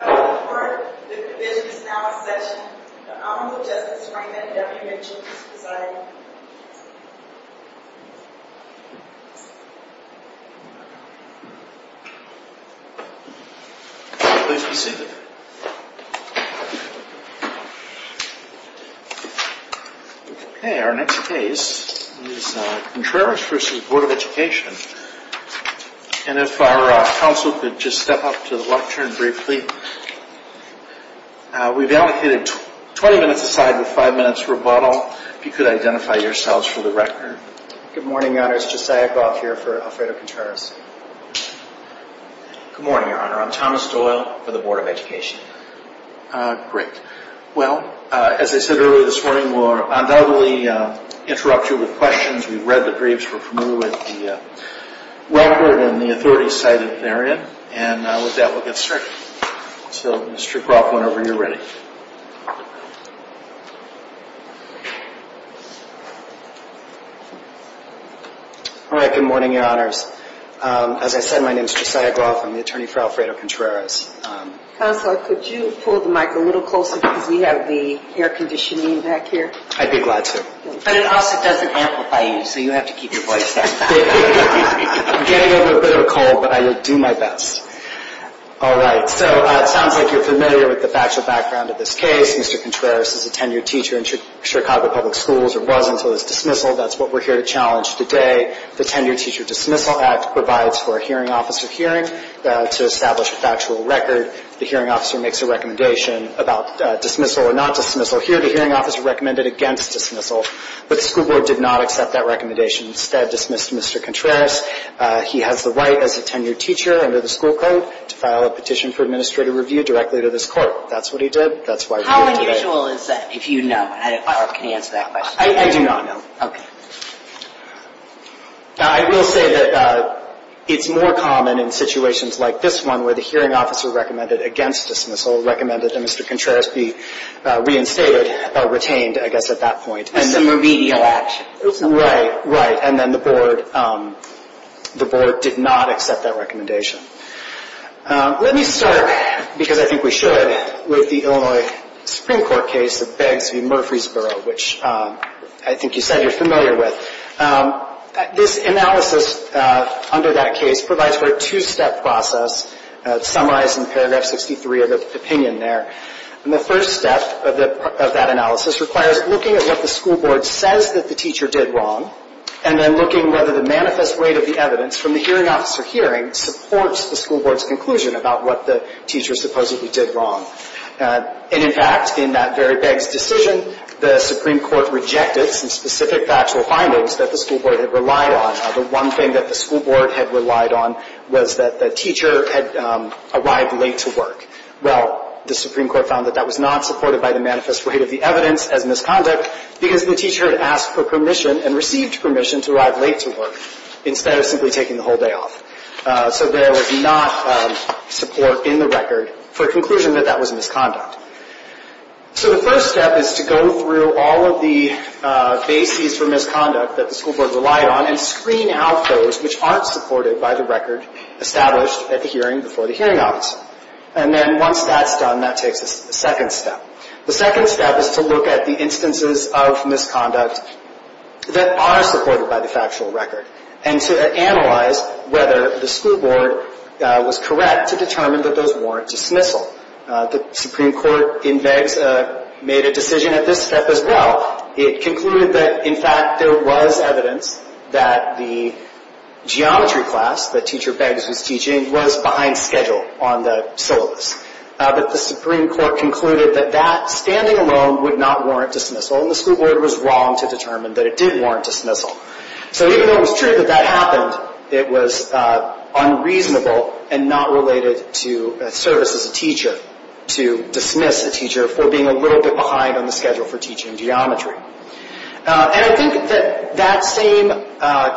At this time, I would like to call to order the provisions now in session of the Honorable Justice Frank M. W. Mitchell v. Presidio. Please be seated. Okay, our next case is Contreras v. Board of Education. And if our counsel could just step up to the lectern briefly. We've allocated 20 minutes aside with 5 minutes rebuttal. If you could identify yourselves for the record. Good morning, Your Honor. It's Josiah Gauth here for Alfredo Contreras. Good morning, Your Honor. I'm Thomas Doyle for the Board of Education. Great. Well, as I said earlier this morning, we'll undoubtedly interrupt you with questions. We've read the briefs. We're familiar with the record and the authority cited therein. And with that, we'll get started. So, Mr. Gauth, whenever you're ready. All right. Good morning, Your Honors. As I said, my name is Josiah Gauth. I'm the attorney for Alfredo Contreras. Counselor, could you pull the mic a little closer because we have the air conditioning back here? I'd be glad to. But it also doesn't amplify you, so you have to keep your voice down. I'm getting over a bit of a cold, but I will do my best. All right. So, it sounds like you're familiar with the factual background of this case. Mr. Contreras is a tenured teacher in Chicago Public Schools or was until his dismissal. That's what we're here to challenge today. The Tenured Teacher Dismissal Act provides for a hearing officer hearing to establish a factual record. The hearing officer makes a recommendation about dismissal or not dismissal. Here, the hearing officer recommended against dismissal, but the school board did not accept that recommendation. Instead, dismissed Mr. Contreras. He has the right as a tenured teacher under the school code to file a petition for administrative review directly to this court. That's what he did. That's why we're here today. How unusual is that, if you know? I don't know if I can answer that question. I do not know. Okay. I will say that it's more common in situations like this one where the hearing officer recommended against dismissal, recommended that Mr. Contreras be reinstated or retained, I guess, at that point. And the remedial action. Right, right. And then the board did not accept that recommendation. Let me start, because I think we should, with the Illinois Supreme Court case of Bags v. Murfreesboro, which I think you said you're familiar with. This analysis under that case provides for a two-step process. It's summarized in paragraph 63 of the opinion there. And the first step of that analysis requires looking at what the school board says that the teacher did wrong and then looking whether the manifest weight of the evidence from the hearing officer hearing supports the school board's conclusion about what the teacher supposedly did wrong. And, in fact, in that very Bags decision, the Supreme Court rejected some specific factual findings that the school board had relied on. The one thing that the school board had relied on was that the teacher had arrived late to work. Well, the Supreme Court found that that was not supported by the manifest weight of the evidence as misconduct because the teacher had asked for permission and received permission to arrive late to work instead of simply taking the whole day off. So there was not support in the record for a conclusion that that was misconduct. So the first step is to go through all of the bases for misconduct that the school board relied on and screen out those which aren't supported by the record established at the hearing before the hearing officer. And then once that's done, that takes a second step. The second step is to look at the instances of misconduct that are supported by the factual record and to analyze whether the school board was correct to determine that those warrant dismissal. The Supreme Court in Beggs made a decision at this step as well. It concluded that, in fact, there was evidence that the geometry class that Teacher Beggs was teaching was behind schedule on the syllabus. But the Supreme Court concluded that that, standing alone, would not warrant dismissal and the school board was wrong to determine that it did warrant dismissal. So even though it was true that that happened, it was unreasonable and not related to service as a teacher to dismiss a teacher for being a little bit behind on the schedule for teaching geometry. And I think that that same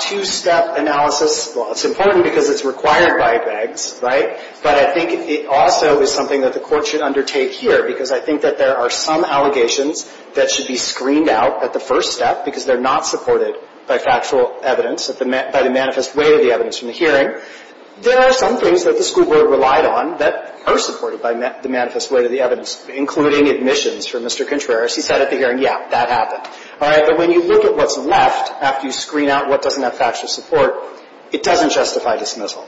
two-step analysis, well, it's important because it's required by Beggs, right? But I think it also is something that the court should undertake here because I think that there are some allegations that should be screened out at the first step because they're not supported by factual evidence, by the manifest way to the evidence from the hearing. There are some things that the school board relied on that are supported by the manifest way to the evidence, including admissions for Mr. Contreras. He said at the hearing, yeah, that happened. All right, but when you look at what's left after you screen out what doesn't have factual support, it doesn't justify dismissal.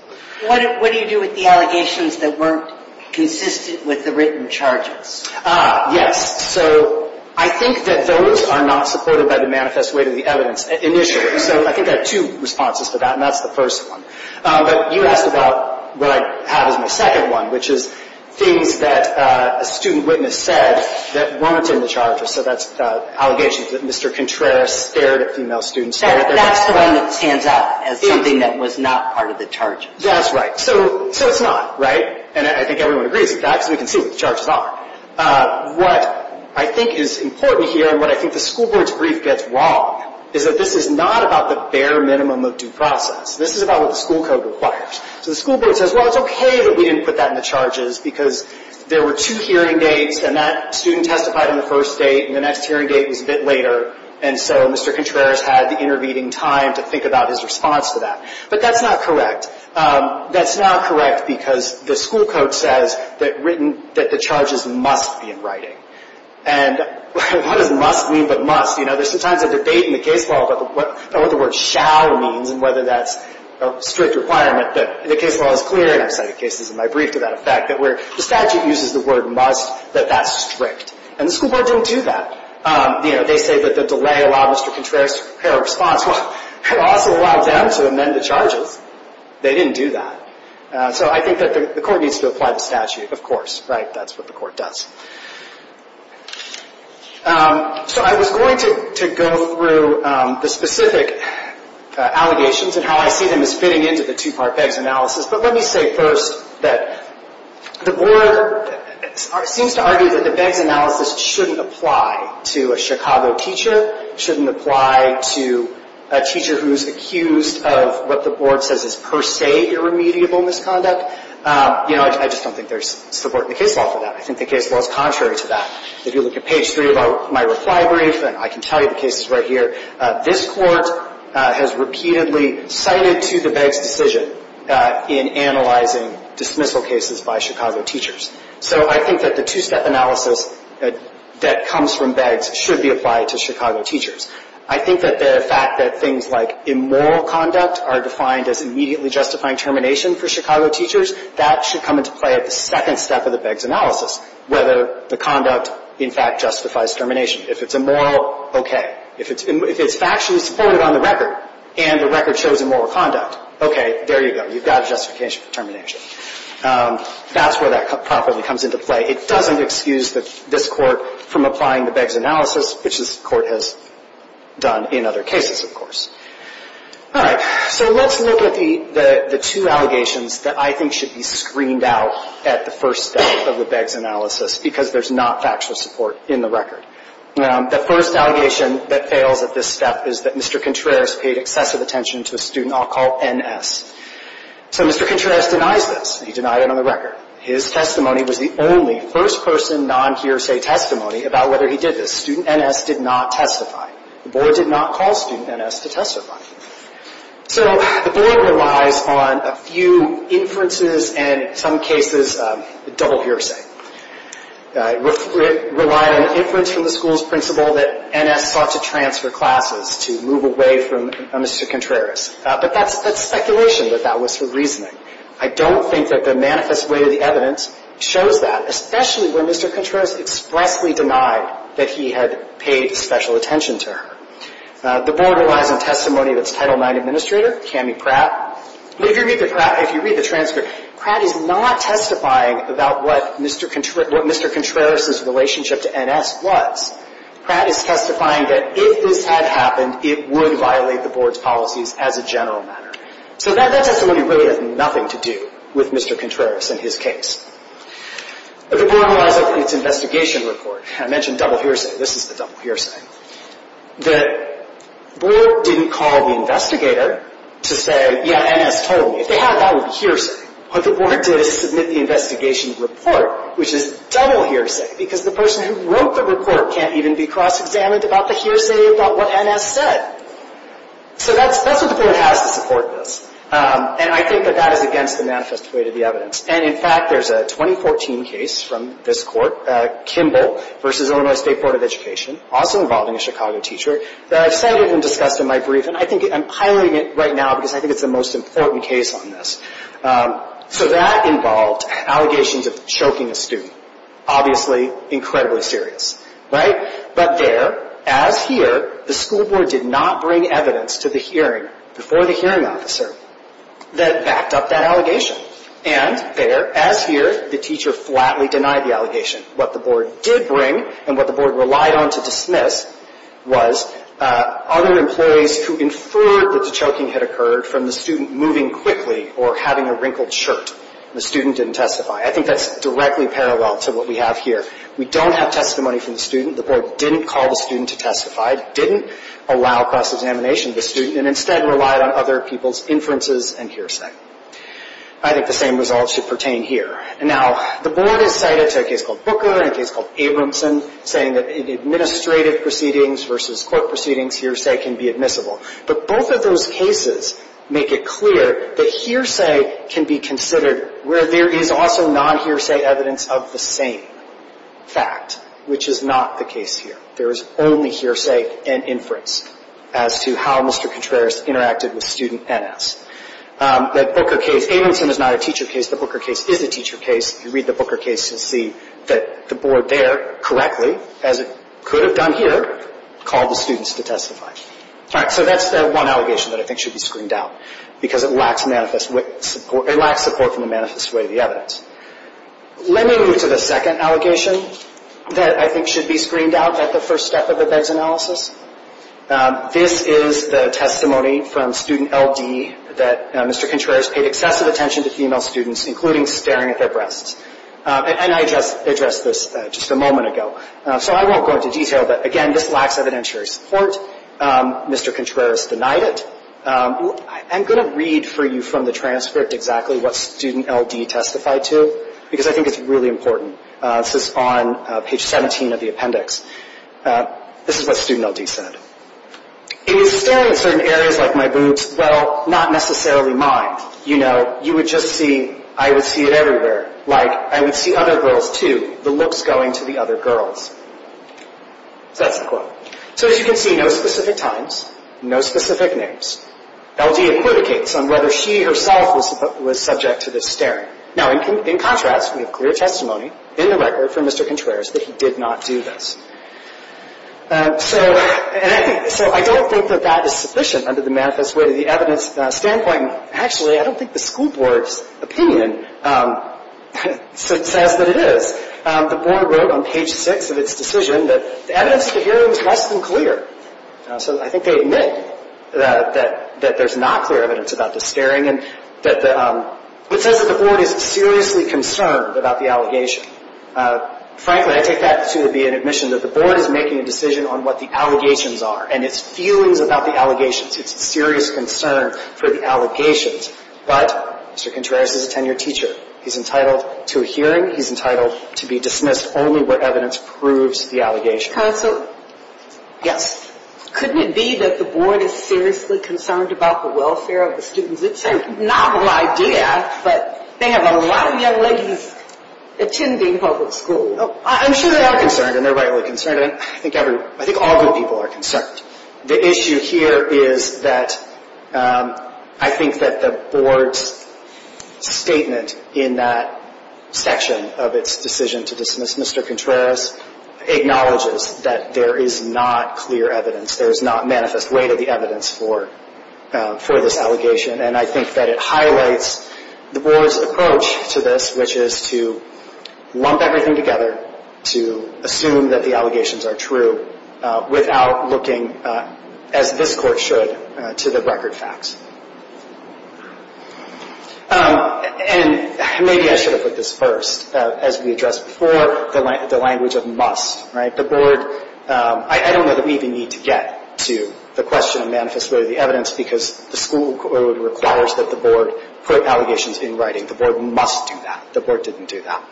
What do you do with the allegations that weren't consistent with the written charges? Yes. So I think that those are not supported by the manifest way to the evidence initially. So I think I have two responses to that, and that's the first one. But you asked about what I have as my second one, which is things that a student witness said that weren't in the charges. So that's allegations that Mr. Contreras stared at female students. That's the one that stands out as something that was not part of the charges. That's right. So it's not, right? And I think everyone agrees with that because we can see what the charges are. What I think is important here and what I think the school board's brief gets wrong is that this is not about the bare minimum of due process. This is about what the school code requires. So the school board says, well, it's okay that we didn't put that in the charges because there were two hearing dates, and that student testified on the first date, and the next hearing date was a bit later, and so Mr. Contreras had the intervening time to think about his response to that. But that's not correct. That's not correct because the school code says that the charges must be in writing. And what does must mean but must? You know, there's sometimes a debate in the case law about what the word shall means and whether that's a strict requirement that the case law is clear, and I've cited cases in my brief to that effect, that where the statute uses the word must, that that's strict. And the school board didn't do that. You know, they say that the delay allowed Mr. Contreras to prepare a response. Well, it also allowed them to amend the charges. They didn't do that. So I think that the court needs to apply the statute, of course, right? That's what the court does. So I was going to go through the specific allegations and how I see them as fitting into the two-part BEGS analysis, but let me say first that the board seems to argue that the BEGS analysis shouldn't apply to a Chicago teacher, shouldn't apply to a teacher who's accused of what the board says is per se irremediable misconduct. You know, I just don't think there's support in the case law for that. I think the case law is contrary to that. If you look at page three of my reply brief, and I can tell you the case is right here, this court has repeatedly cited to the BEGS decision in analyzing dismissal cases by Chicago teachers. So I think that the two-step analysis that comes from BEGS should be applied to Chicago teachers. I think that the fact that things like immoral conduct are defined as immediately justifying termination for Chicago teachers, that should come into play at the second step of the BEGS analysis, whether the conduct, in fact, justifies termination. If it's immoral, okay. If it's factually supported on the record and the record shows immoral conduct, okay, there you go. You've got justification for termination. That's where that properly comes into play. It doesn't excuse this court from applying the BEGS analysis, which this court has done in other cases, of course. All right. So let's look at the two allegations that I think should be screened out at the first step of the BEGS analysis because there's not factual support in the record. The first allegation that fails at this step is that Mr. Contreras paid excessive attention to a student I'll call N.S. So Mr. Contreras denies this. He denied it on the record. His testimony was the only first-person non-hearsay testimony about whether he did this. Student N.S. did not testify. The board did not call student N.S. to testify. So the board relies on a few inferences and, in some cases, double hearsay. It relied on inference from the school's principal that N.S. sought to transfer classes, to move away from Mr. Contreras. But that's speculation, that that was her reasoning. I don't think that the manifest way of the evidence shows that, especially when Mr. Contreras expressly denied that he had paid special attention to her. The board relies on testimony of its Title IX administrator, Cammie Pratt. If you read the transcript, Pratt is not testifying about what Mr. Contreras' relationship to N.S. was. Pratt is testifying that if this had happened, it would violate the board's policies as a general matter. So that testimony really has nothing to do with Mr. Contreras and his case. The board relies on its investigation report. I mentioned double hearsay. This is the double hearsay. The board didn't call the investigator to say, yeah, N.S. told me. If they had, that would be hearsay. What the board did is submit the investigation report, which is double hearsay, because the person who wrote the report can't even be cross-examined about the hearsay about what N.S. said. So that's what the board has to support this. And I think that that is against the manifest way of the evidence. And, in fact, there's a 2014 case from this court, Kimball v. Illinois State Board of Education, also involving a Chicago teacher that I've cited and discussed in my brief, and I think I'm highlighting it right now because I think it's the most important case on this. So that involved allegations of choking a student, obviously incredibly serious, right? But there, as here, the school board did not bring evidence to the hearing before the hearing officer that backed up that allegation. And there, as here, the teacher flatly denied the allegation. What the board did bring and what the board relied on to dismiss was other employees who inferred that the choking had occurred from the student moving quickly or having a wrinkled shirt. The student didn't testify. I think that's directly parallel to what we have here. We don't have testimony from the student. The board didn't call the student to testify, didn't allow cross-examination of the student, and instead relied on other people's inferences and hearsay. I think the same results should pertain here. Now, the board has cited a case called Booker and a case called Abramson, saying that in administrative proceedings versus court proceedings, hearsay can be admissible. But both of those cases make it clear that hearsay can be considered where there is also non-hearsay evidence of the same fact, which is not the case here. There is only hearsay and inference as to how Mr. Contreras interacted with student NS. That Booker case, Abramson is not a teacher case. The Booker case is a teacher case. If you read the Booker case, you'll see that the board there correctly, as it could have done here, called the students to testify. All right, so that's that one allegation that I think should be screened out because it lacks support from the manifest way of the evidence. Let me move to the second allegation that I think should be screened out at the first step of the BEGS analysis. This is the testimony from student LD that Mr. Contreras paid excessive attention to female students, including staring at their breasts. And I addressed this just a moment ago. So I won't go into detail, but, again, this lacks evidentiary support. Mr. Contreras denied it. I'm going to read for you from the transcript exactly what student LD testified to because I think it's really important. This is on page 17 of the appendix. This is what student LD said. He was staring at certain areas like my boobs. Well, not necessarily mine. You know, you would just see, I would see it everywhere. Like, I would see other girls too. The looks going to the other girls. So that's the quote. So as you can see, no specific times, no specific names. LD adjudicates on whether she herself was subject to this staring. Now, in contrast, we have clear testimony in the record from Mr. Contreras that he did not do this. So I don't think that that is sufficient under the manifest way to the evidence standpoint. Actually, I don't think the school board's opinion says that it is. The board wrote on page 6 of its decision that the evidence at the hearing was less than clear. So I think they admit that there's not clear evidence about the staring. It says that the board is seriously concerned about the allegation. Frankly, I take that to be an admission that the board is making a decision on what the allegations are and its feelings about the allegations. It's a serious concern for the allegations. But Mr. Contreras is a tenured teacher. He's entitled to a hearing. He's entitled to be dismissed only when evidence proves the allegation. Counsel? Yes. Couldn't it be that the board is seriously concerned about the welfare of the students? It's a novel idea, but they have a lot of young ladies attending public schools. I'm sure they are concerned, and they're rightly concerned. I think all good people are concerned. The issue here is that I think that the board's statement in that section of its decision to dismiss Mr. Contreras acknowledges that there is not clear evidence, there is not manifest way to the evidence for this allegation. And I think that it highlights the board's approach to this, which is to lump everything together to assume that the allegations are true without looking, as this court should, to the record facts. And maybe I should have put this first. As we addressed before, the language of must. The board, I don't know that we even need to get to the question of manifest way to the evidence because the school code requires that the board put allegations in writing. The board must do that. The board didn't do that.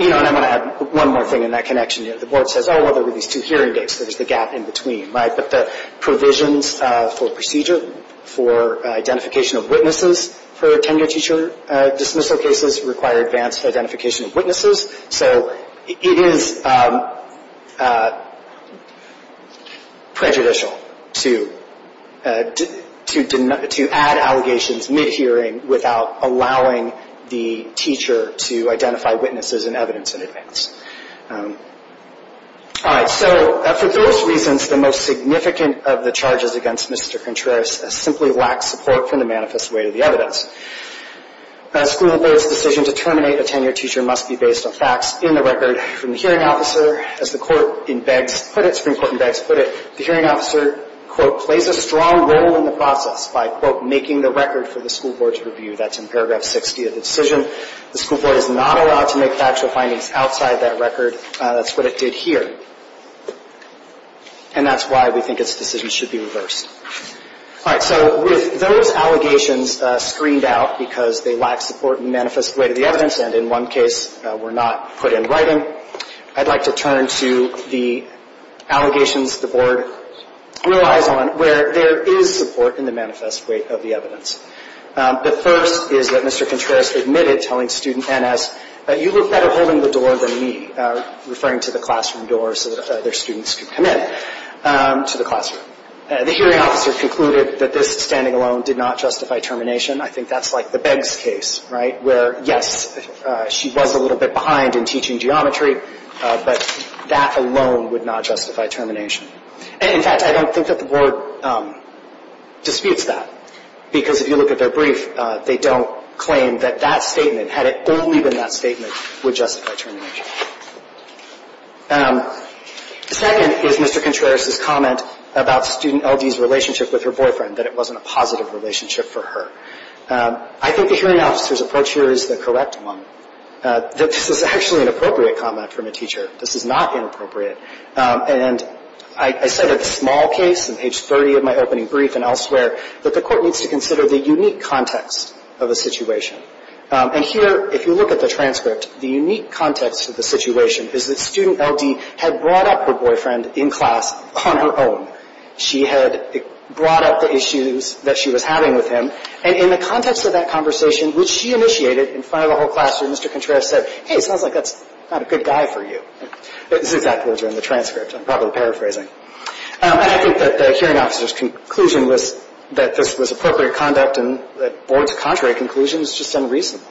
You know, and I want to add one more thing in that connection. The board says, oh, well, there were these two hearing dates, so there's the gap in between. But the provisions for procedure for identification of witnesses for tenure teacher dismissal cases require advanced identification of witnesses. So it is prejudicial to add allegations mid-hearing without allowing the teacher to identify witnesses and evidence in advance. All right. So for those reasons, the most significant of the charges against Mr. Contreras simply lacks support from the manifest way to the evidence. A school board's decision to terminate a tenure teacher must be based on facts in the record. From the hearing officer, as the court in Beggs put it, Supreme Court in Beggs put it, the hearing officer, quote, plays a strong role in the process by, quote, making the record for the school board's review. That's in paragraph 60 of the decision. The school board is not allowed to make factual findings outside that record. That's what it did here. And that's why we think its decision should be reversed. All right. So with those allegations screened out because they lack support in the manifest way to the evidence and in one case were not put in writing, I'd like to turn to the allegations the board relies on where there is support in the manifest way of the evidence. The first is that Mr. Contreras admitted telling student N.S., you look better holding the door than me, referring to the classroom door so that other students could come in to the classroom. The hearing officer concluded that this standing alone did not justify termination. I think that's like the Beggs case, right, where, yes, she was a little bit behind in teaching geometry, but that alone would not justify termination. In fact, I don't think that the board disputes that because if you look at their brief, they don't claim that that statement, had it only been that statement, would justify termination. The second is Mr. Contreras' comment about student L.D.'s relationship with her boyfriend, that it wasn't a positive relationship for her. I think the hearing officer's approach here is the correct one. This is actually an appropriate comment from a teacher. This is not inappropriate. And I said in a small case, in page 30 of my opening brief and elsewhere, that the court needs to consider the unique context of the situation. And here, if you look at the transcript, the unique context of the situation is that student L.D. had brought up her boyfriend in class on her own. She had brought up the issues that she was having with him. And in the context of that conversation, which she initiated in front of the whole classroom, Mr. Contreras said, hey, it sounds like that's not a good guy for you. This is exactly what's in the transcript. I'm probably paraphrasing. And I think that the hearing officer's conclusion was that this was appropriate conduct and that the board's contrary conclusion was just unreasonable.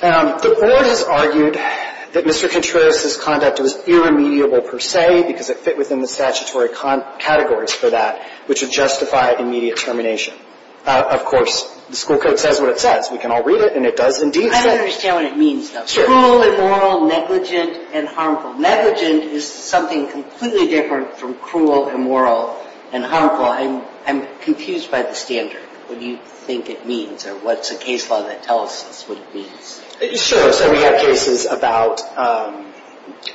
The board has argued that Mr. Contreras' conduct was irremediable per se because it fit within the statutory categories for that, which would justify immediate termination. Of course, the school code says what it says. We can all read it, and it does indeed say. I don't understand what it means, though. Cruel, immoral, negligent, and harmful. Well, I'm confused by the standard. What do you think it means, or what's a case law that tells us what it means? Sure. So we have cases about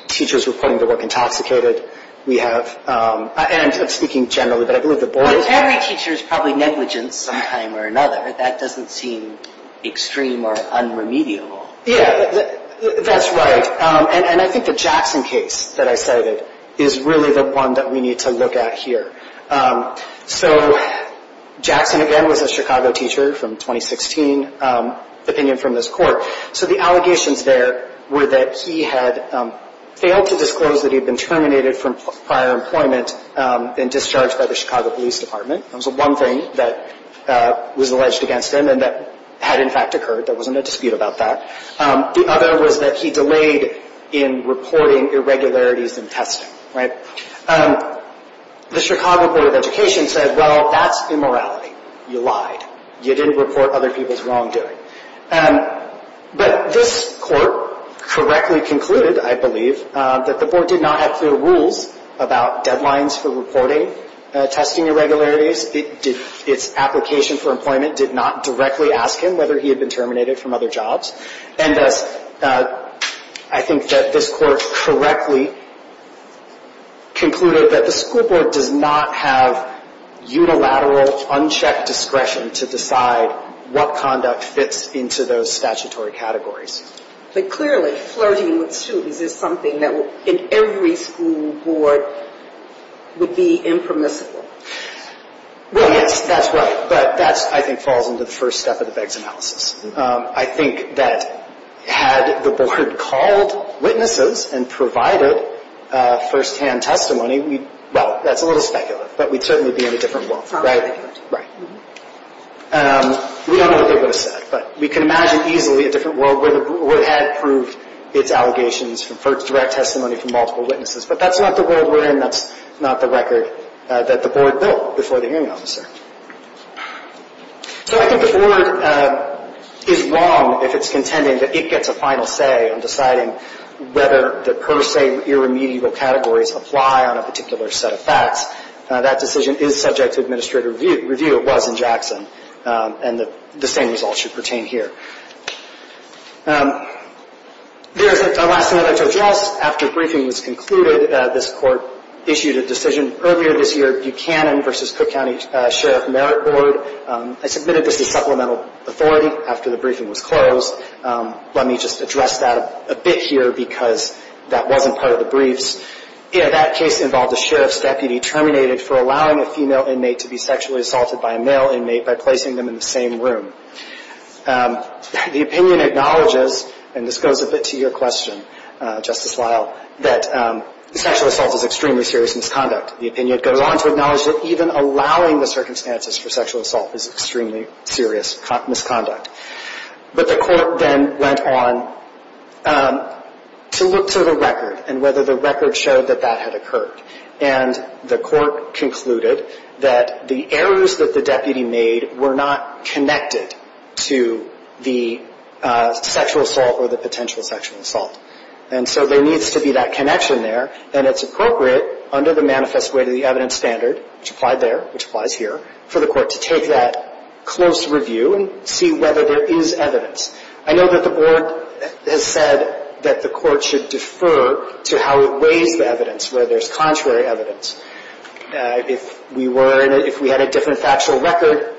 teachers reporting their work intoxicated. We have—and I'm speaking generally, but I believe the board— Well, if every teacher is probably negligent sometime or another, that doesn't seem extreme or unremediable. Yeah, that's right. And I think the Jackson case that I cited is really the one that we need to look at here. So Jackson, again, was a Chicago teacher from 2016, opinion from this court. So the allegations there were that he had failed to disclose that he had been terminated from prior employment and discharged by the Chicago Police Department. That was one thing that was alleged against him and that had, in fact, occurred. There wasn't a dispute about that. The other was that he delayed in reporting irregularities in testing. The Chicago Board of Education said, well, that's immorality. You lied. You didn't report other people's wrongdoing. But this court correctly concluded, I believe, that the board did not have clear rules about deadlines for reporting testing irregularities. Its application for employment did not directly ask him whether he had been terminated from other jobs. And thus, I think that this court correctly concluded that the school board does not have unilateral, unchecked discretion to decide what conduct fits into those statutory categories. But clearly, flirting with students is something that in every school board would be impermissible. Well, yes, that's right. But that, I think, falls into the first step of the BEGS analysis. I think that had the board called witnesses and provided firsthand testimony, well, that's a little speculative, but we'd certainly be in a different world, right? Right. We don't know what they would have said, but we can imagine easily a different world where the board had proved its allegations for direct testimony from multiple witnesses. But that's not the world we're in. That's not the record that the board built before the hearing officer. So I think the board is wrong if it's contending that it gets a final say on deciding whether the per se irremediable categories apply on a particular set of facts. That decision is subject to administrative review. It was in Jackson. And the same results should pertain here. There's a last minute address. After briefing was concluded, this court issued a decision. Earlier this year, Buchanan v. Cook County Sheriff Merit Board. I submitted this as supplemental authority after the briefing was closed. Let me just address that a bit here because that wasn't part of the briefs. That case involved a sheriff's deputy terminated for allowing a female inmate to be sexually assaulted by a male inmate by placing them in the same room. The opinion acknowledges, and this goes a bit to your question, Justice Lyle, that sexual assault is extremely serious misconduct. The opinion goes on to acknowledge that even allowing the circumstances for sexual assault is extremely serious misconduct. But the court then went on to look to the record and whether the record showed that that had occurred. And the court concluded that the errors that the deputy made were not connected to the sexual assault or the potential sexual assault. And so there needs to be that connection there. And it's appropriate under the manifest way to the evidence standard, which applied there, which applies here, for the court to take that close review and see whether there is evidence. I know that the board has said that the court should defer to how it weighs the evidence, where there's contrary evidence. If we were in a ‑‑ if we had a different factual record,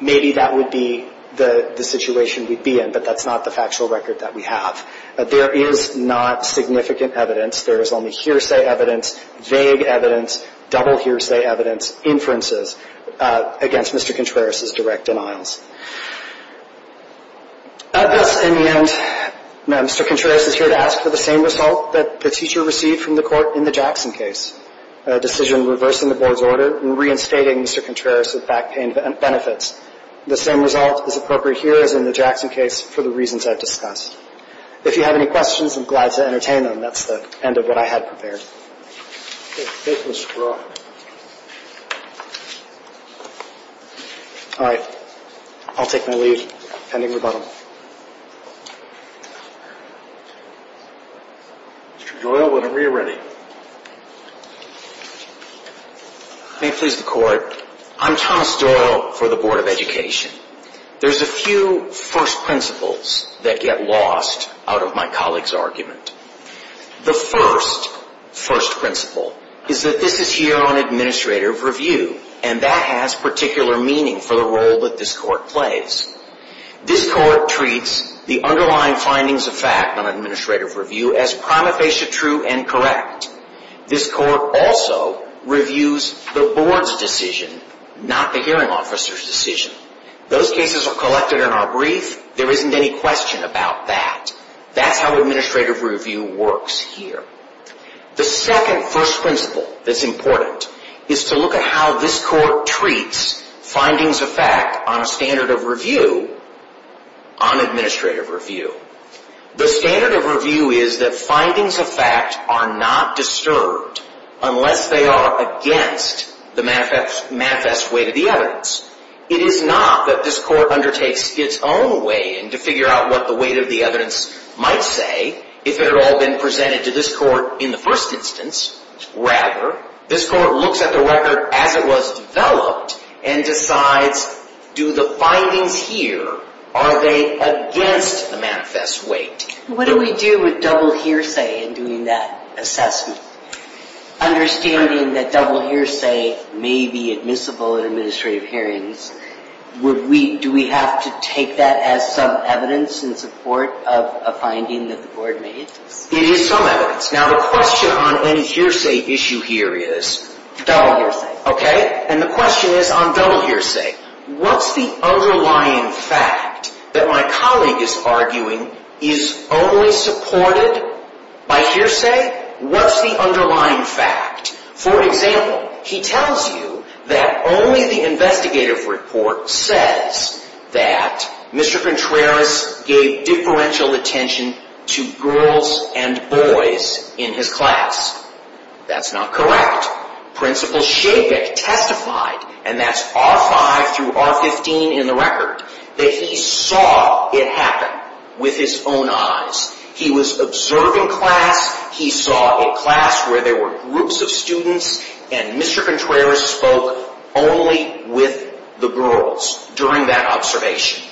maybe that would be the situation we'd be in. But that's not the factual record that we have. There is not significant evidence. There is only hearsay evidence, vague evidence, double hearsay evidence, inferences against Mr. Contreras' direct denials. Of this, in the end, Mr. Contreras is here to ask for the same result that the teacher received from the court in the Jackson case, a decision reversing the board's order and reinstating Mr. Contreras with back pain benefits. The same result is appropriate here as in the Jackson case for the reasons I've discussed. If you have any questions, I'm glad to entertain them. That's the end of what I had prepared. Thank you, Mr. Brewer. All right. I'll take my leave, pending rebuttal. Mr. Doyle, whenever you're ready. May it please the Court. I'm Thomas Doyle for the Board of Education. There's a few first principles that get lost out of my colleague's argument. The first first principle is that this is here on administrative review, and that has particular meaning for the role that this Court plays. This Court treats the underlying findings of fact on administrative review as prima facie true and correct. This Court also reviews the board's decision, not the hearing officer's decision. Those cases are collected in our brief. There isn't any question about that. That's how administrative review works here. The second first principle that's important is to look at how this Court treats findings of fact on a standard of review on administrative review. The standard of review is that findings of fact are not disturbed unless they are against the manifest weight of the evidence. It is not that this Court undertakes its own weigh-in to figure out what the weight of the evidence might say if it had all been presented to this Court in the first instance. Rather, this Court looks at the record as it was developed and decides, do the findings here, are they against the manifest weight? What do we do with double hearsay in doing that assessment? Understanding that double hearsay may be admissible in administrative hearings, do we have to take that as some evidence in support of a finding that the Board made? It is some evidence. Now, the question on any hearsay issue here is double hearsay. Okay? And the question is on double hearsay. What's the underlying fact that my colleague is arguing is only supported by hearsay? What's the underlying fact? For example, he tells you that only the investigative report says that Mr. Contreras gave differential attention to girls and boys in his class. That's not correct. Principals should get testified, and that's R-5 through R-15 in the record, that he saw it happen with his own eyes. He was observing class. He saw a class where there were groups of students, and Mr. Contreras spoke only with the girls during that observation.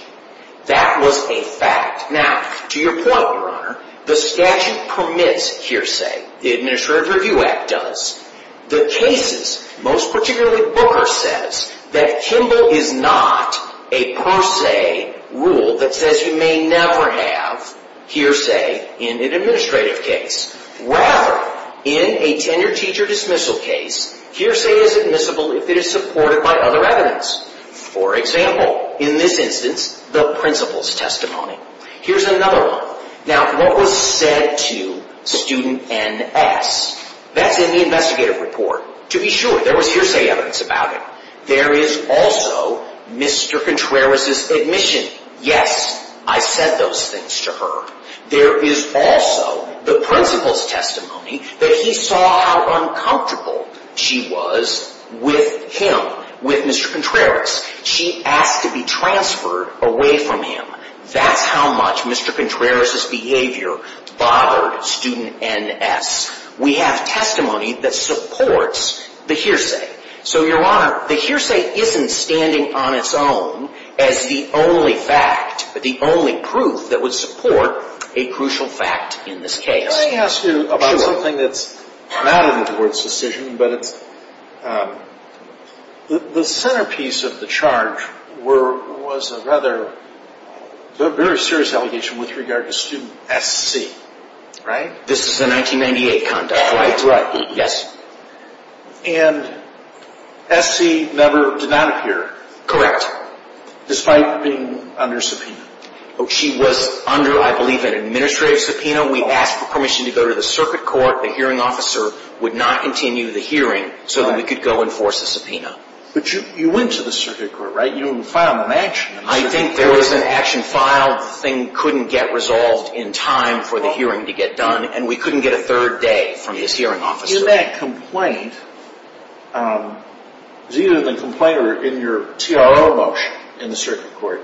That was a fact. Now, to your point, Your Honor, the statute permits hearsay. The Administrative Review Act does. The cases, most particularly Booker, says that Kimball is not a per se rule that says you may never have hearsay in an administrative case. Rather, in a tenured teacher dismissal case, hearsay is admissible if it is supported by other evidence. For example, in this instance, the principal's testimony. Here's another one. Now, what was said to student N.S.? That's in the investigative report. To be sure, there was hearsay evidence about it. There is also Mr. Contreras' admission. Yes, I said those things to her. There is also the principal's testimony that he saw how uncomfortable she was with him, with Mr. Contreras. She asked to be transferred away from him. That's how much Mr. Contreras' behavior bothered student N.S. We have testimony that supports the hearsay. So, Your Honor, the hearsay isn't standing on its own as the only fact, the only proof that would support a crucial fact in this case. Can I ask you about something that's not in the Court's decision? The centerpiece of the charge was a very serious allegation with regard to student S.C., right? This is a 1998 conduct, right? Right, yes. And S.C. never did not appear. Correct. Despite being under subpoena. She was under, I believe, an administrative subpoena. We asked for permission to go to the circuit court. The hearing officer would not continue the hearing so that we could go enforce the subpoena. But you went to the circuit court, right? You filed an action. I think there was an action filed. The thing couldn't get resolved in time for the hearing to get done, and we couldn't get a third day from this hearing officer. In that complaint, it was either the complaint or in your T.R.O. motion in the circuit court,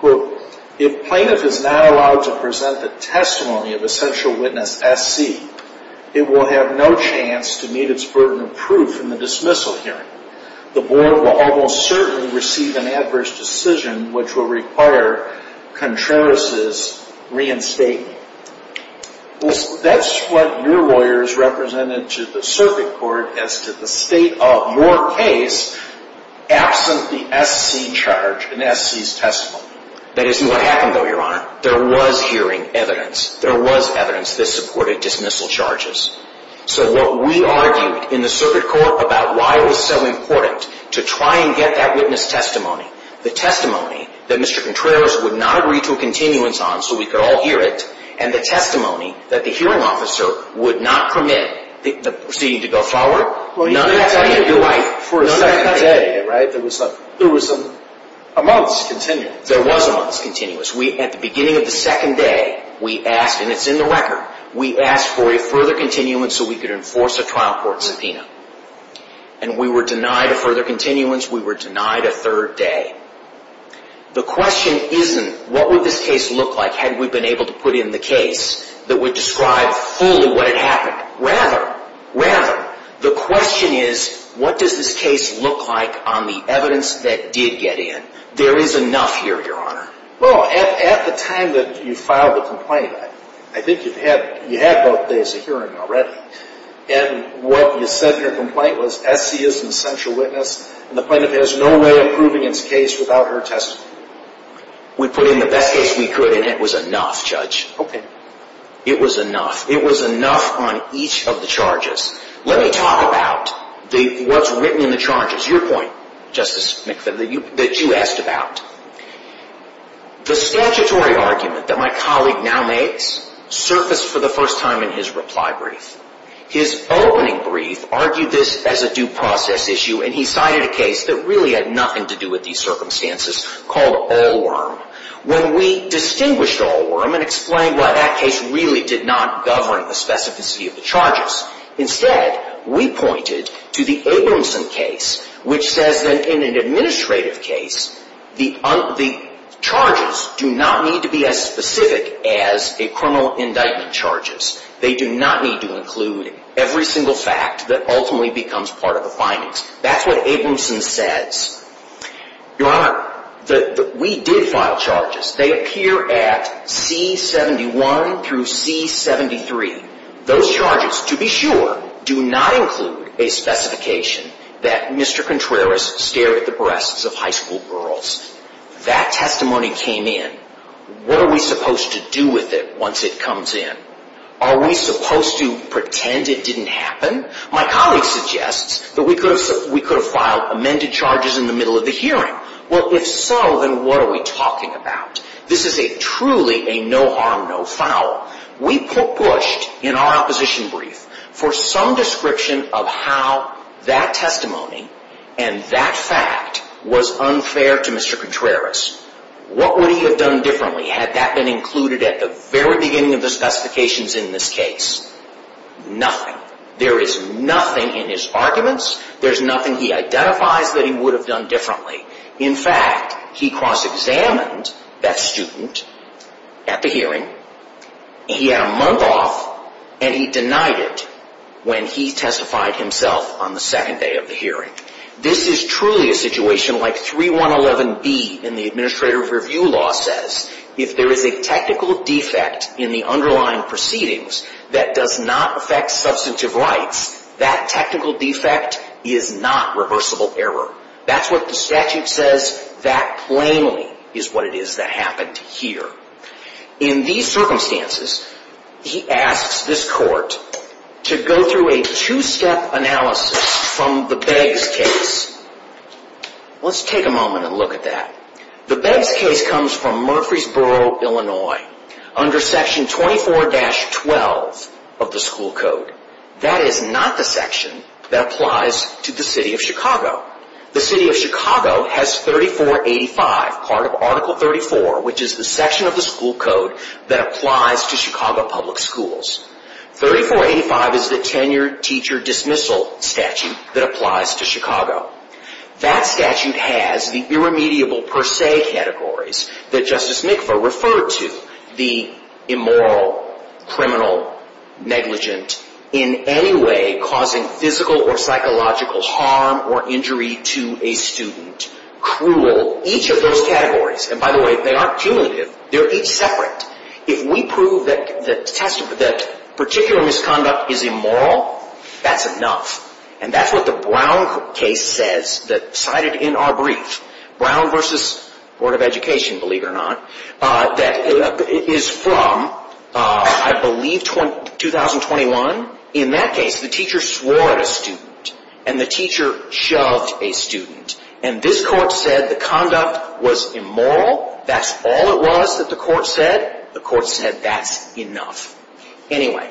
quote, if plaintiff is not allowed to present the testimony of essential witness S.C., it will have no chance to meet its burden of proof in the dismissal hearing. The board will almost certainly receive an adverse decision which will require Contreras' reinstating. That's what your lawyers represented to the circuit court as to the state of your case absent the S.C. charge in S.C.'s testimony. That isn't what happened, though, Your Honor. There was hearing evidence. There was evidence that supported dismissal charges. So what we argued in the circuit court about why it was so important to try and get that witness testimony, the testimony that Mr. Contreras would not agree to a continuance on so we could all hear it, and the testimony that the hearing officer would not permit the proceeding to go forward, none of that came to light. For a second day, right, there was a month's continuance. There was a month's continuance. At the beginning of the second day, we asked, and it's in the record, we asked for a further continuance so we could enforce a trial court subpoena. And we were denied a further continuance. We were denied a third day. The question isn't what would this case look like had we been able to put in the case that would describe fully what had happened. Rather, rather, the question is what does this case look like on the evidence that did get in. There is enough here, Your Honor. Well, at the time that you filed the complaint, I think you had both days of hearing already. And what you said in your complaint was S.C. is an essential witness, and the plaintiff has no way of proving its case without her testimony. We put in the best case we could, and it was enough, Judge. Okay. It was enough. It was enough on each of the charges. Let me talk about what's written in the charges. Your point, Justice McPherson, that you asked about. The statutory argument that my colleague now makes surfaced for the first time in his reply brief. His opening brief argued this as a due process issue, and he cited a case that really had nothing to do with these circumstances called Allworm. When we distinguished Allworm and explained, well, that case really did not govern the specificity of the charges. Instead, we pointed to the Abramson case, which says that in an administrative case, the charges do not need to be as specific as a criminal indictment charges. They do not need to include every single fact that ultimately becomes part of the findings. That's what Abramson says. Your Honor, we did file charges. They appear at C-71 through C-73. Those charges, to be sure, do not include a specification that Mr. Contreras stared at the breasts of high school girls. That testimony came in. What are we supposed to do with it once it comes in? Are we supposed to pretend it didn't happen? My colleague suggests that we could have filed amended charges in the middle of the hearing. Well, if so, then what are we talking about? This is truly a no harm, no foul. We pushed in our opposition brief for some description of how that testimony and that fact was unfair to Mr. Contreras. What would he have done differently had that been included at the very beginning of the specifications in this case? Nothing. There is nothing in his arguments. There's nothing he identifies that he would have done differently. In fact, he cross-examined that student at the hearing. He had a month off, and he denied it when he testified himself on the second day of the hearing. This is truly a situation like 3111B in the Administrative Review Law says. If there is a technical defect in the underlying proceedings that does not affect substantive rights, that technical defect is not reversible error. That's what the statute says. That plainly is what it is that happened here. In these circumstances, he asks this court to go through a two-step analysis from the Beggs case. Let's take a moment and look at that. The Beggs case comes from Murfreesboro, Illinois, under Section 24-12 of the school code. That is not the section that applies to the city of Chicago. The city of Chicago has 3485, part of Article 34, which is the section of the school code that applies to Chicago public schools. 3485 is the tenure teacher dismissal statute that applies to Chicago. That statute has the irremediable per se categories that Justice Mikva referred to, the immoral, criminal, negligent, in any way causing physical or psychological harm or injury to a student, cruel. Each of those categories, and by the way, they aren't cumulative. They're each separate. If we prove that particular misconduct is immoral, that's enough. And that's what the Brown case says, cited in our brief. Brown v. Board of Education, believe it or not, that is from, I believe, 2021. In that case, the teacher swore at a student, and the teacher shoved a student. And this court said the conduct was immoral. That's all it was that the court said. The court said that's enough. Anyway,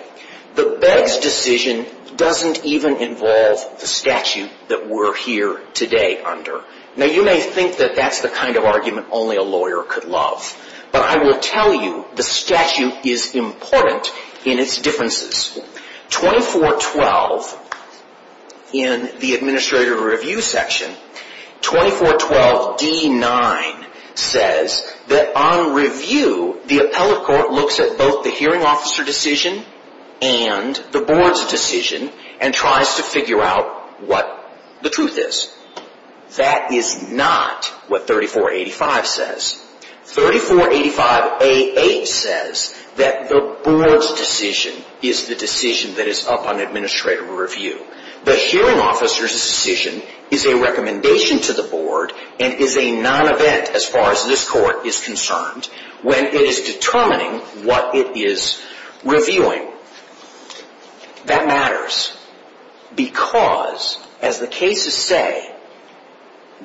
the Beggs decision doesn't even involve the statute that we're here today under. Now, you may think that that's the kind of argument only a lawyer could love. But I will tell you, the statute is important in its differences. 2412 in the Administrative Review section, 2412d-9 says that on review, the appellate court looks at both the hearing officer decision and the board's decision and tries to figure out what the truth is. That is not what 3485 says. 3485a-8 says that the board's decision is the decision that is up on Administrative Review. The hearing officer's decision is a recommendation to the board and is a non-event as far as this court is concerned when it is determining what it is reviewing. That matters because, as the cases say,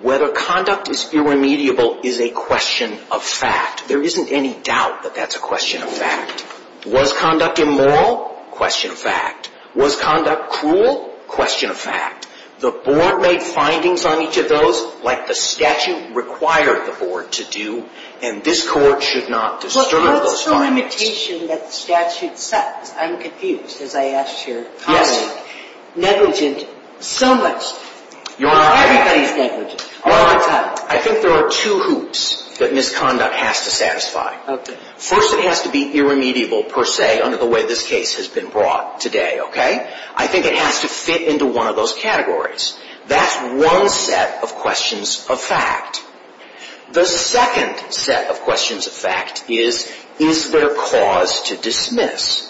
whether conduct is irremediable is a question of fact. There isn't any doubt that that's a question of fact. Was conduct immoral? Question of fact. Was conduct cruel? Question of fact. The board made findings on each of those like the statute required the board to do, and this court should not disturb those findings. The limitation that the statute sets, I'm confused as I asked your colleague, negligent so much. Everybody's negligent all the time. I think there are two hoops that misconduct has to satisfy. First, it has to be irremediable per se under the way this case has been brought today. I think it has to fit into one of those categories. That's one set of questions of fact. The second set of questions of fact is, is there cause to dismiss?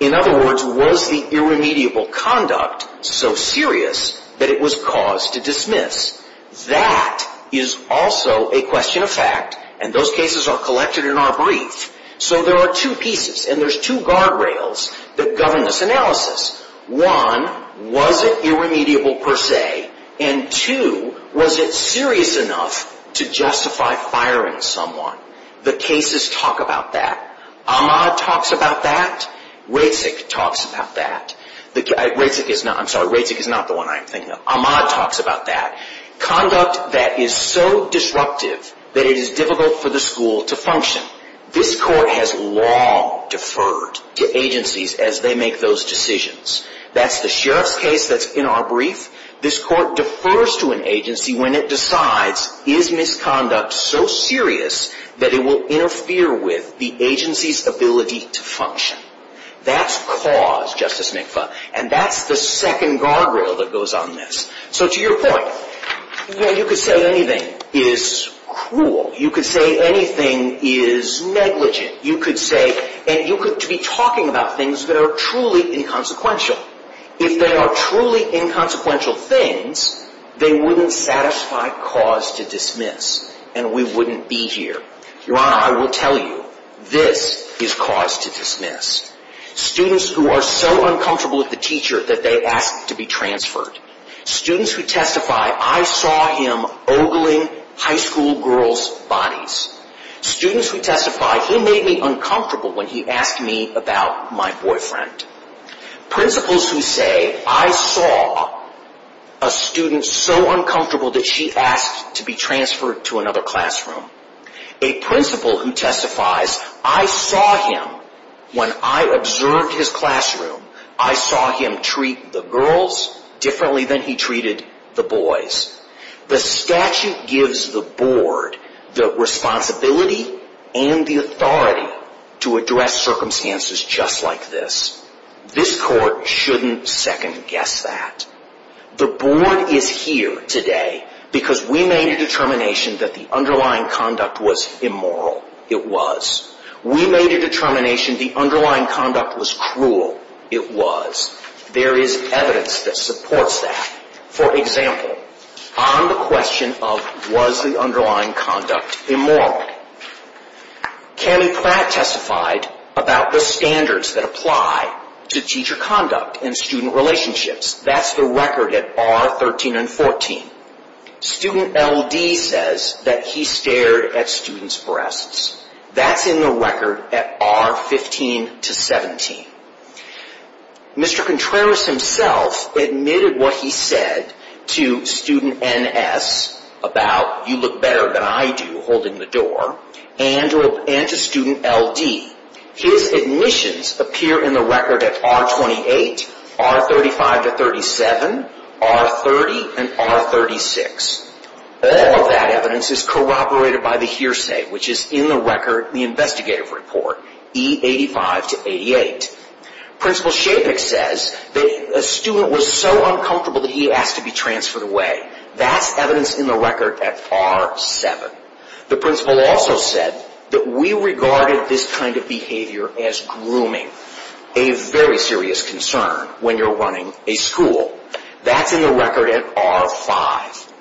In other words, was the irremediable conduct so serious that it was cause to dismiss? That is also a question of fact, and those cases are collected in our brief. So there are two pieces, and there's two guardrails that govern this analysis. One, was it irremediable per se, and two, was it serious enough to justify firing someone? The cases talk about that. Ahmad talks about that. Raycek talks about that. I'm sorry, Raycek is not the one I'm thinking of. Ahmad talks about that. Conduct that is so disruptive that it is difficult for the school to function. This Court has long deferred to agencies as they make those decisions. That's the Sheriff's case that's in our brief. This Court defers to an agency when it decides, is misconduct so serious that it will interfere with the agency's ability to function? That's cause, Justice McFaul, and that's the second guardrail that goes on this. So to your point, you could say anything is cruel. You could say anything is negligent. You could say, and you could be talking about things that are truly inconsequential. If they are truly inconsequential things, they wouldn't satisfy cause to dismiss, and we wouldn't be here. Your Honor, I will tell you, this is cause to dismiss. Students who are so uncomfortable with the teacher that they ask to be transferred. Students who testify, I saw him ogling high school girls' bodies. Students who testify, he made me uncomfortable when he asked me about my boyfriend. Principals who say, I saw a student so uncomfortable that she asked to be transferred to another classroom. A principal who testifies, I saw him, when I observed his classroom, I saw him treat the girls differently than he treated the boys. The statute gives the Board the responsibility and the authority to address circumstances just like this. This Court shouldn't second guess that. The Board is here today because we made a determination that the underlying conduct was immoral. It was. We made a determination the underlying conduct was cruel. It was. There is evidence that supports that. For example, on the question of was the underlying conduct immoral, Cammy Pratt testified about the standards that apply to teacher conduct and student relationships. That's the record at R13 and R14. Student LD says that he stared at students' breasts. That's in the record at R15 to R17. Mr. Contreras himself admitted what he said to student NS about you look better than I do, holding the door, and to student LD. His admissions appear in the record at R28, R35 to R37, R30 and R36. All of that evidence is corroborated by the hearsay, which is in the record in the investigative report, E85 to 88. Principal Shapik says that a student was so uncomfortable that he asked to be transferred away. That's evidence in the record at R7. The principal also said that we regarded this kind of behavior as grooming, a very serious concern when you're running a school. That's in the record at R5.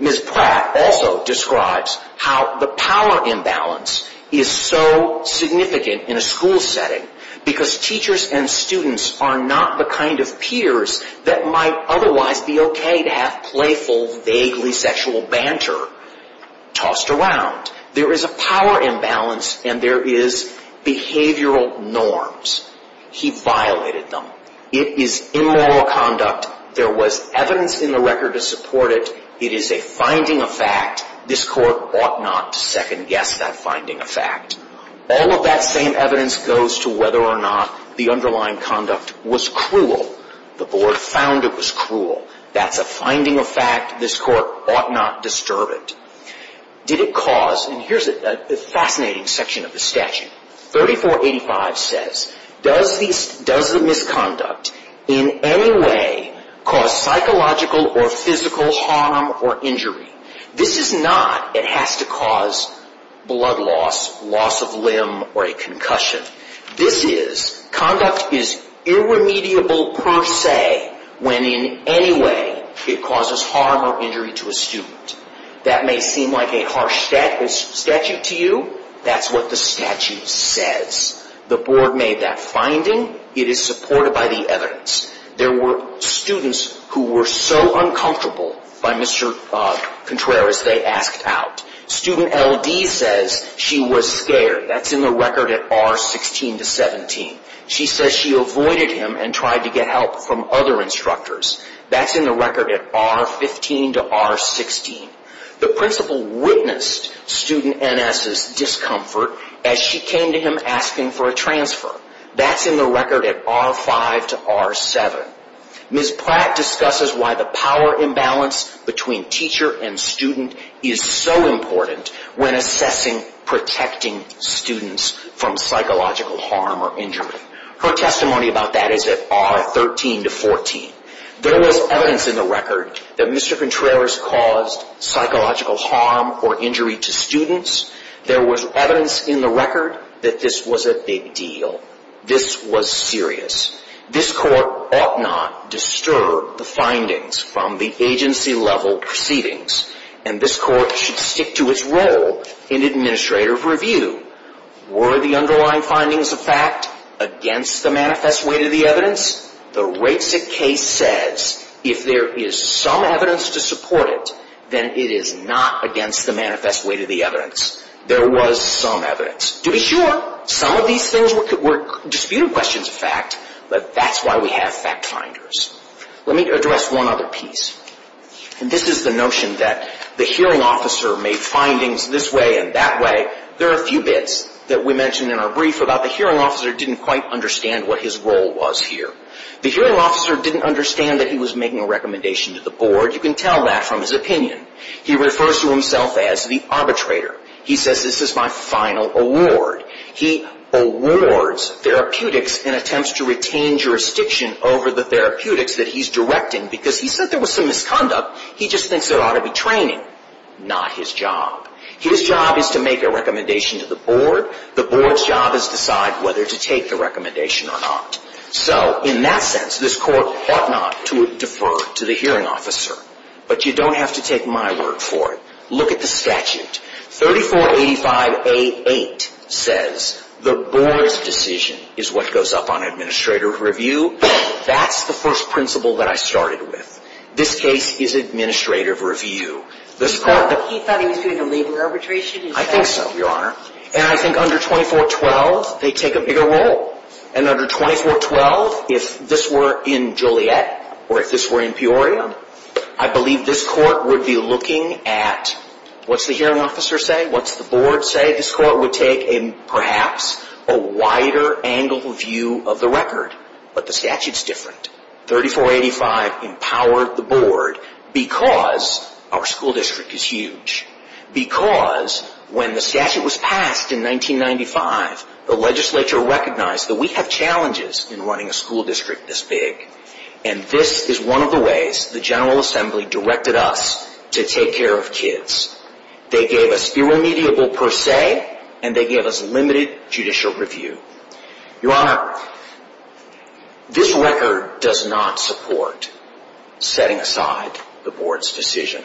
Ms. Pratt also describes how the power imbalance is so significant in a school setting, because teachers and students are not the kind of peers that might otherwise be okay to have playful, vaguely sexual banter tossed around. There is a power imbalance and there is behavioral norms. He violated them. It is immoral conduct. There was evidence in the record to support it. It is a finding of fact. This court ought not to second-guess that finding of fact. All of that same evidence goes to whether or not the underlying conduct was cruel. The board found it was cruel. That's a finding of fact. This court ought not disturb it. Did it cause, and here's a fascinating section of the statute, 3485 says, does the misconduct in any way cause psychological or physical harm or injury? This is not it has to cause blood loss, loss of limb, or a concussion. This is conduct is irremediable per se when in any way it causes harm or injury to a student. That may seem like a harsh statute to you. That's what the statute says. The board made that finding. It is supported by the evidence. There were students who were so uncomfortable by Mr. Contreras they asked out. Student LD says she was scared. That's in the record at R16 to 17. She says she avoided him and tried to get help from other instructors. That's in the record at R15 to R16. The principal witnessed student NS's discomfort as she came to him asking for a transfer. That's in the record at R5 to R7. Ms. Platt discusses why the power imbalance between teacher and student is so important when assessing protecting students from psychological harm or injury. Her testimony about that is at R13 to 14. There was evidence in the record that Mr. Contreras caused psychological harm or injury to students. There was evidence in the record that this was a big deal. This was serious. This court ought not disturb the findings from the agency level proceedings. And this court should stick to its role in administrative review. Were the underlying findings of fact against the manifest weight of the evidence? The rates at case says if there is some evidence to support it, then it is not against the manifest weight of the evidence. There was some evidence. To be sure, some of these things were disputed questions of fact. But that's why we have fact finders. Let me address one other piece. This is the notion that the hearing officer made findings this way and that way. There are a few bits that we mentioned in our brief about the hearing officer didn't quite understand what his role was here. The hearing officer didn't understand that he was making a recommendation to the board. You can tell that from his opinion. He refers to himself as the arbitrator. He says this is my final award. He awards therapeutics and attempts to retain jurisdiction over the therapeutics that he's directing because he said there was some misconduct. He just thinks it ought to be training, not his job. His job is to make a recommendation to the board. The board's job is to decide whether to take the recommendation or not. So in that sense, this court ought not to defer to the hearing officer. But you don't have to take my word for it. Look at the statute. 3485A.8 says the board's decision is what goes up on administrative review. That's the first principle that I started with. This case is administrative review. He thought he was doing a legal arbitration? I think so, Your Honor. And I think under 2412, they take a bigger role. And under 2412, if this were in Juliet or if this were in Peoria, I believe this court would be looking at what's the hearing officer say, what's the board say. This court would take perhaps a wider angle view of the record. But the statute's different. 3485 empowered the board because our school district is huge, because when the statute was passed in 1995, the legislature recognized that we have challenges in running a school district this big. And this is one of the ways the General Assembly directed us to take care of kids. They gave us irremediable per se, and they gave us limited judicial review. Your Honor, this record does not support setting aside the board's decision.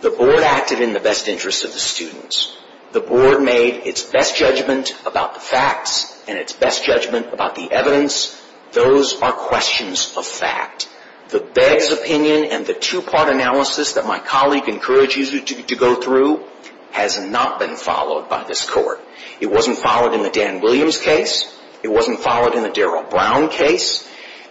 The board acted in the best interest of the students. The board made its best judgment about the facts and its best judgment about the evidence. Those are questions of fact. The Begg's opinion and the two-part analysis that my colleague encourages you to go through has not been followed by this court. It wasn't followed in the Dan Williams case. It wasn't followed in the Daryl Brown case.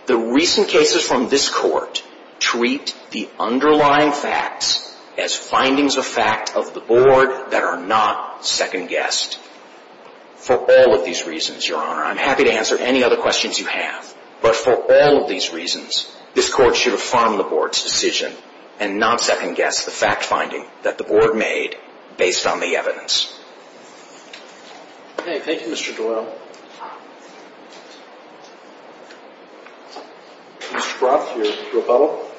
The recent cases from this court treat the underlying facts as findings of fact of the board that are not second-guessed. For all of these reasons, Your Honor, I'm happy to answer any other questions you have. But for all of these reasons, this court should affirm the board's decision and not second-guess the fact-finding that the board made based on the evidence. Thank you, Mr. Doyle. Mr. Froth, your rebuttal.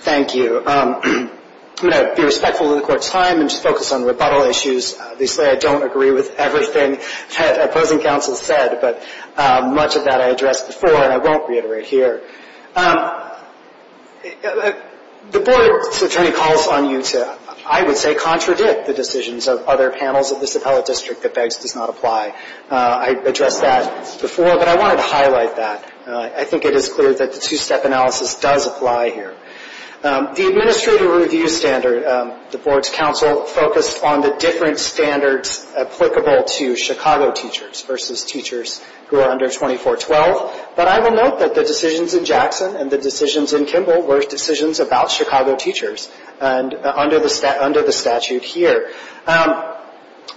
Thank you. I'm going to be respectful of the court's time and just focus on rebuttal issues. They say I don't agree with everything the opposing counsel said, but much of that I addressed before and I won't reiterate here. The board's attorney calls on you to, I would say, contradict the decisions of other panels of this appellate district that Begg's does not apply. I addressed that before, but I wanted to highlight that. I think it is clear that the two-step analysis does apply here. The administrative review standard, the board's counsel focused on the different standards applicable to Chicago teachers versus teachers who are under 2412. But I will note that the decisions in Jackson and the decisions in Kimball were decisions about Chicago teachers under the statute here.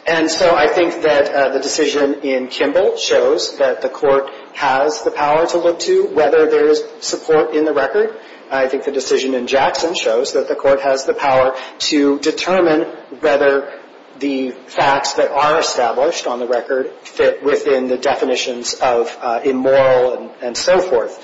And so I think that the decision in Kimball shows that the court has the power to look to whether there is support in the record. I think the decision in Jackson shows that the court has the power to determine whether the facts that are established on the record fit within the definitions of immoral and so forth.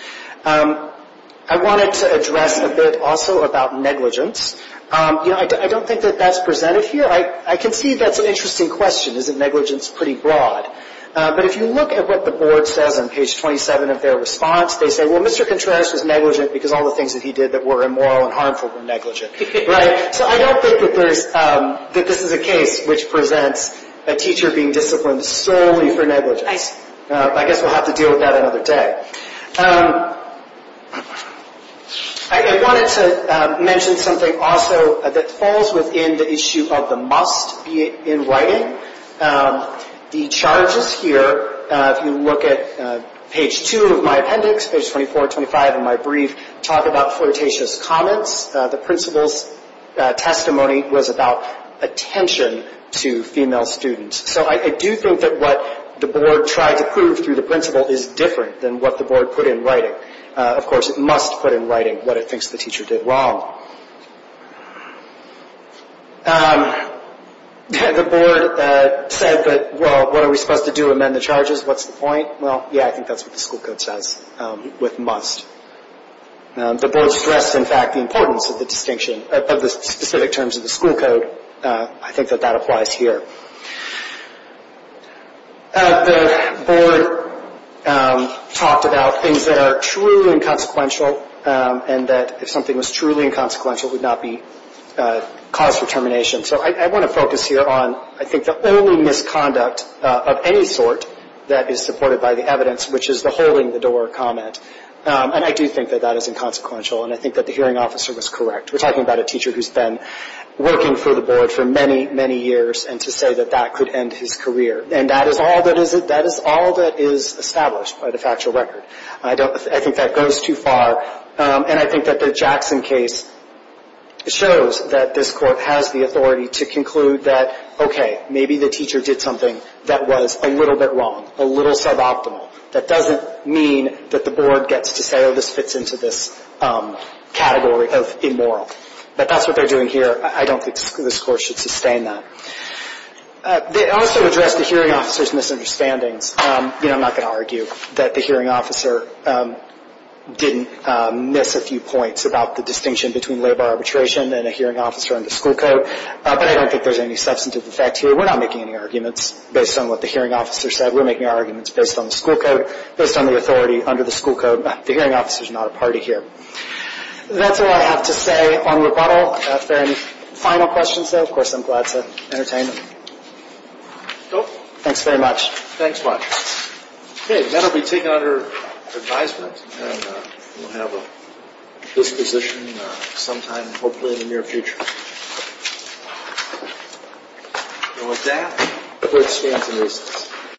I wanted to address a bit also about negligence. You know, I don't think that that's presented here. I can see that's an interesting question. Isn't negligence pretty broad? But if you look at what the board says on page 27 of their response, they say, well, Mr. Contreras was negligent because all the things that he did that were immoral and harmful were negligent. Right? So I don't think that this is a case which presents a teacher being disciplined solely for negligence. I guess we'll have to deal with that another day. I wanted to mention something also that falls within the issue of the must in writing. The charges here, if you look at page 2 of my appendix, page 24, 25 of my brief, talk about flirtatious comments. The principal's testimony was about attention to female students. So I do think that what the board tried to prove through the principal is different than what the board put in writing. Of course, it must put in writing what it thinks the teacher did wrong. The board said that, well, what are we supposed to do, amend the charges? What's the point? Well, yeah, I think that's what the school code says with must. The board stressed, in fact, the importance of the distinction, of the specific terms of the school code. I think that that applies here. The board talked about things that are truly inconsequential and that if something was truly inconsequential, it would not be cause for termination. So I want to focus here on, I think, the only misconduct of any sort that is supported by the evidence, which is the holding the door comment, and I do think that that is inconsequential, and I think that the hearing officer was correct. We're talking about a teacher who's been working for the board for many, many years, and to say that that could end his career, and that is all that is established by the factual record. I think that goes too far, and I think that the Jackson case shows that this Court has the authority to conclude that, okay, maybe the teacher did something that was a little bit wrong, a little suboptimal. That doesn't mean that the board gets to say, oh, this fits into this category of immoral. But that's what they're doing here. I don't think this Court should sustain that. They also addressed the hearing officer's misunderstandings. I'm not going to argue that the hearing officer didn't miss a few points about the distinction between labor arbitration and a hearing officer under school code, but I don't think there's any substantive effect here. We're not making any arguments based on what the hearing officer said. We're making our arguments based on the school code, based on the authority under the school code. The hearing officer is not a party here. That's all I have to say on rebuttal. Are there any final questions, though? Of course, I'm glad to entertain them. Thanks very much. Thanks much. Okay, that will be taken under advisement, and we'll have a disposition sometime hopefully in the near future. And with that, the Court stands in recess.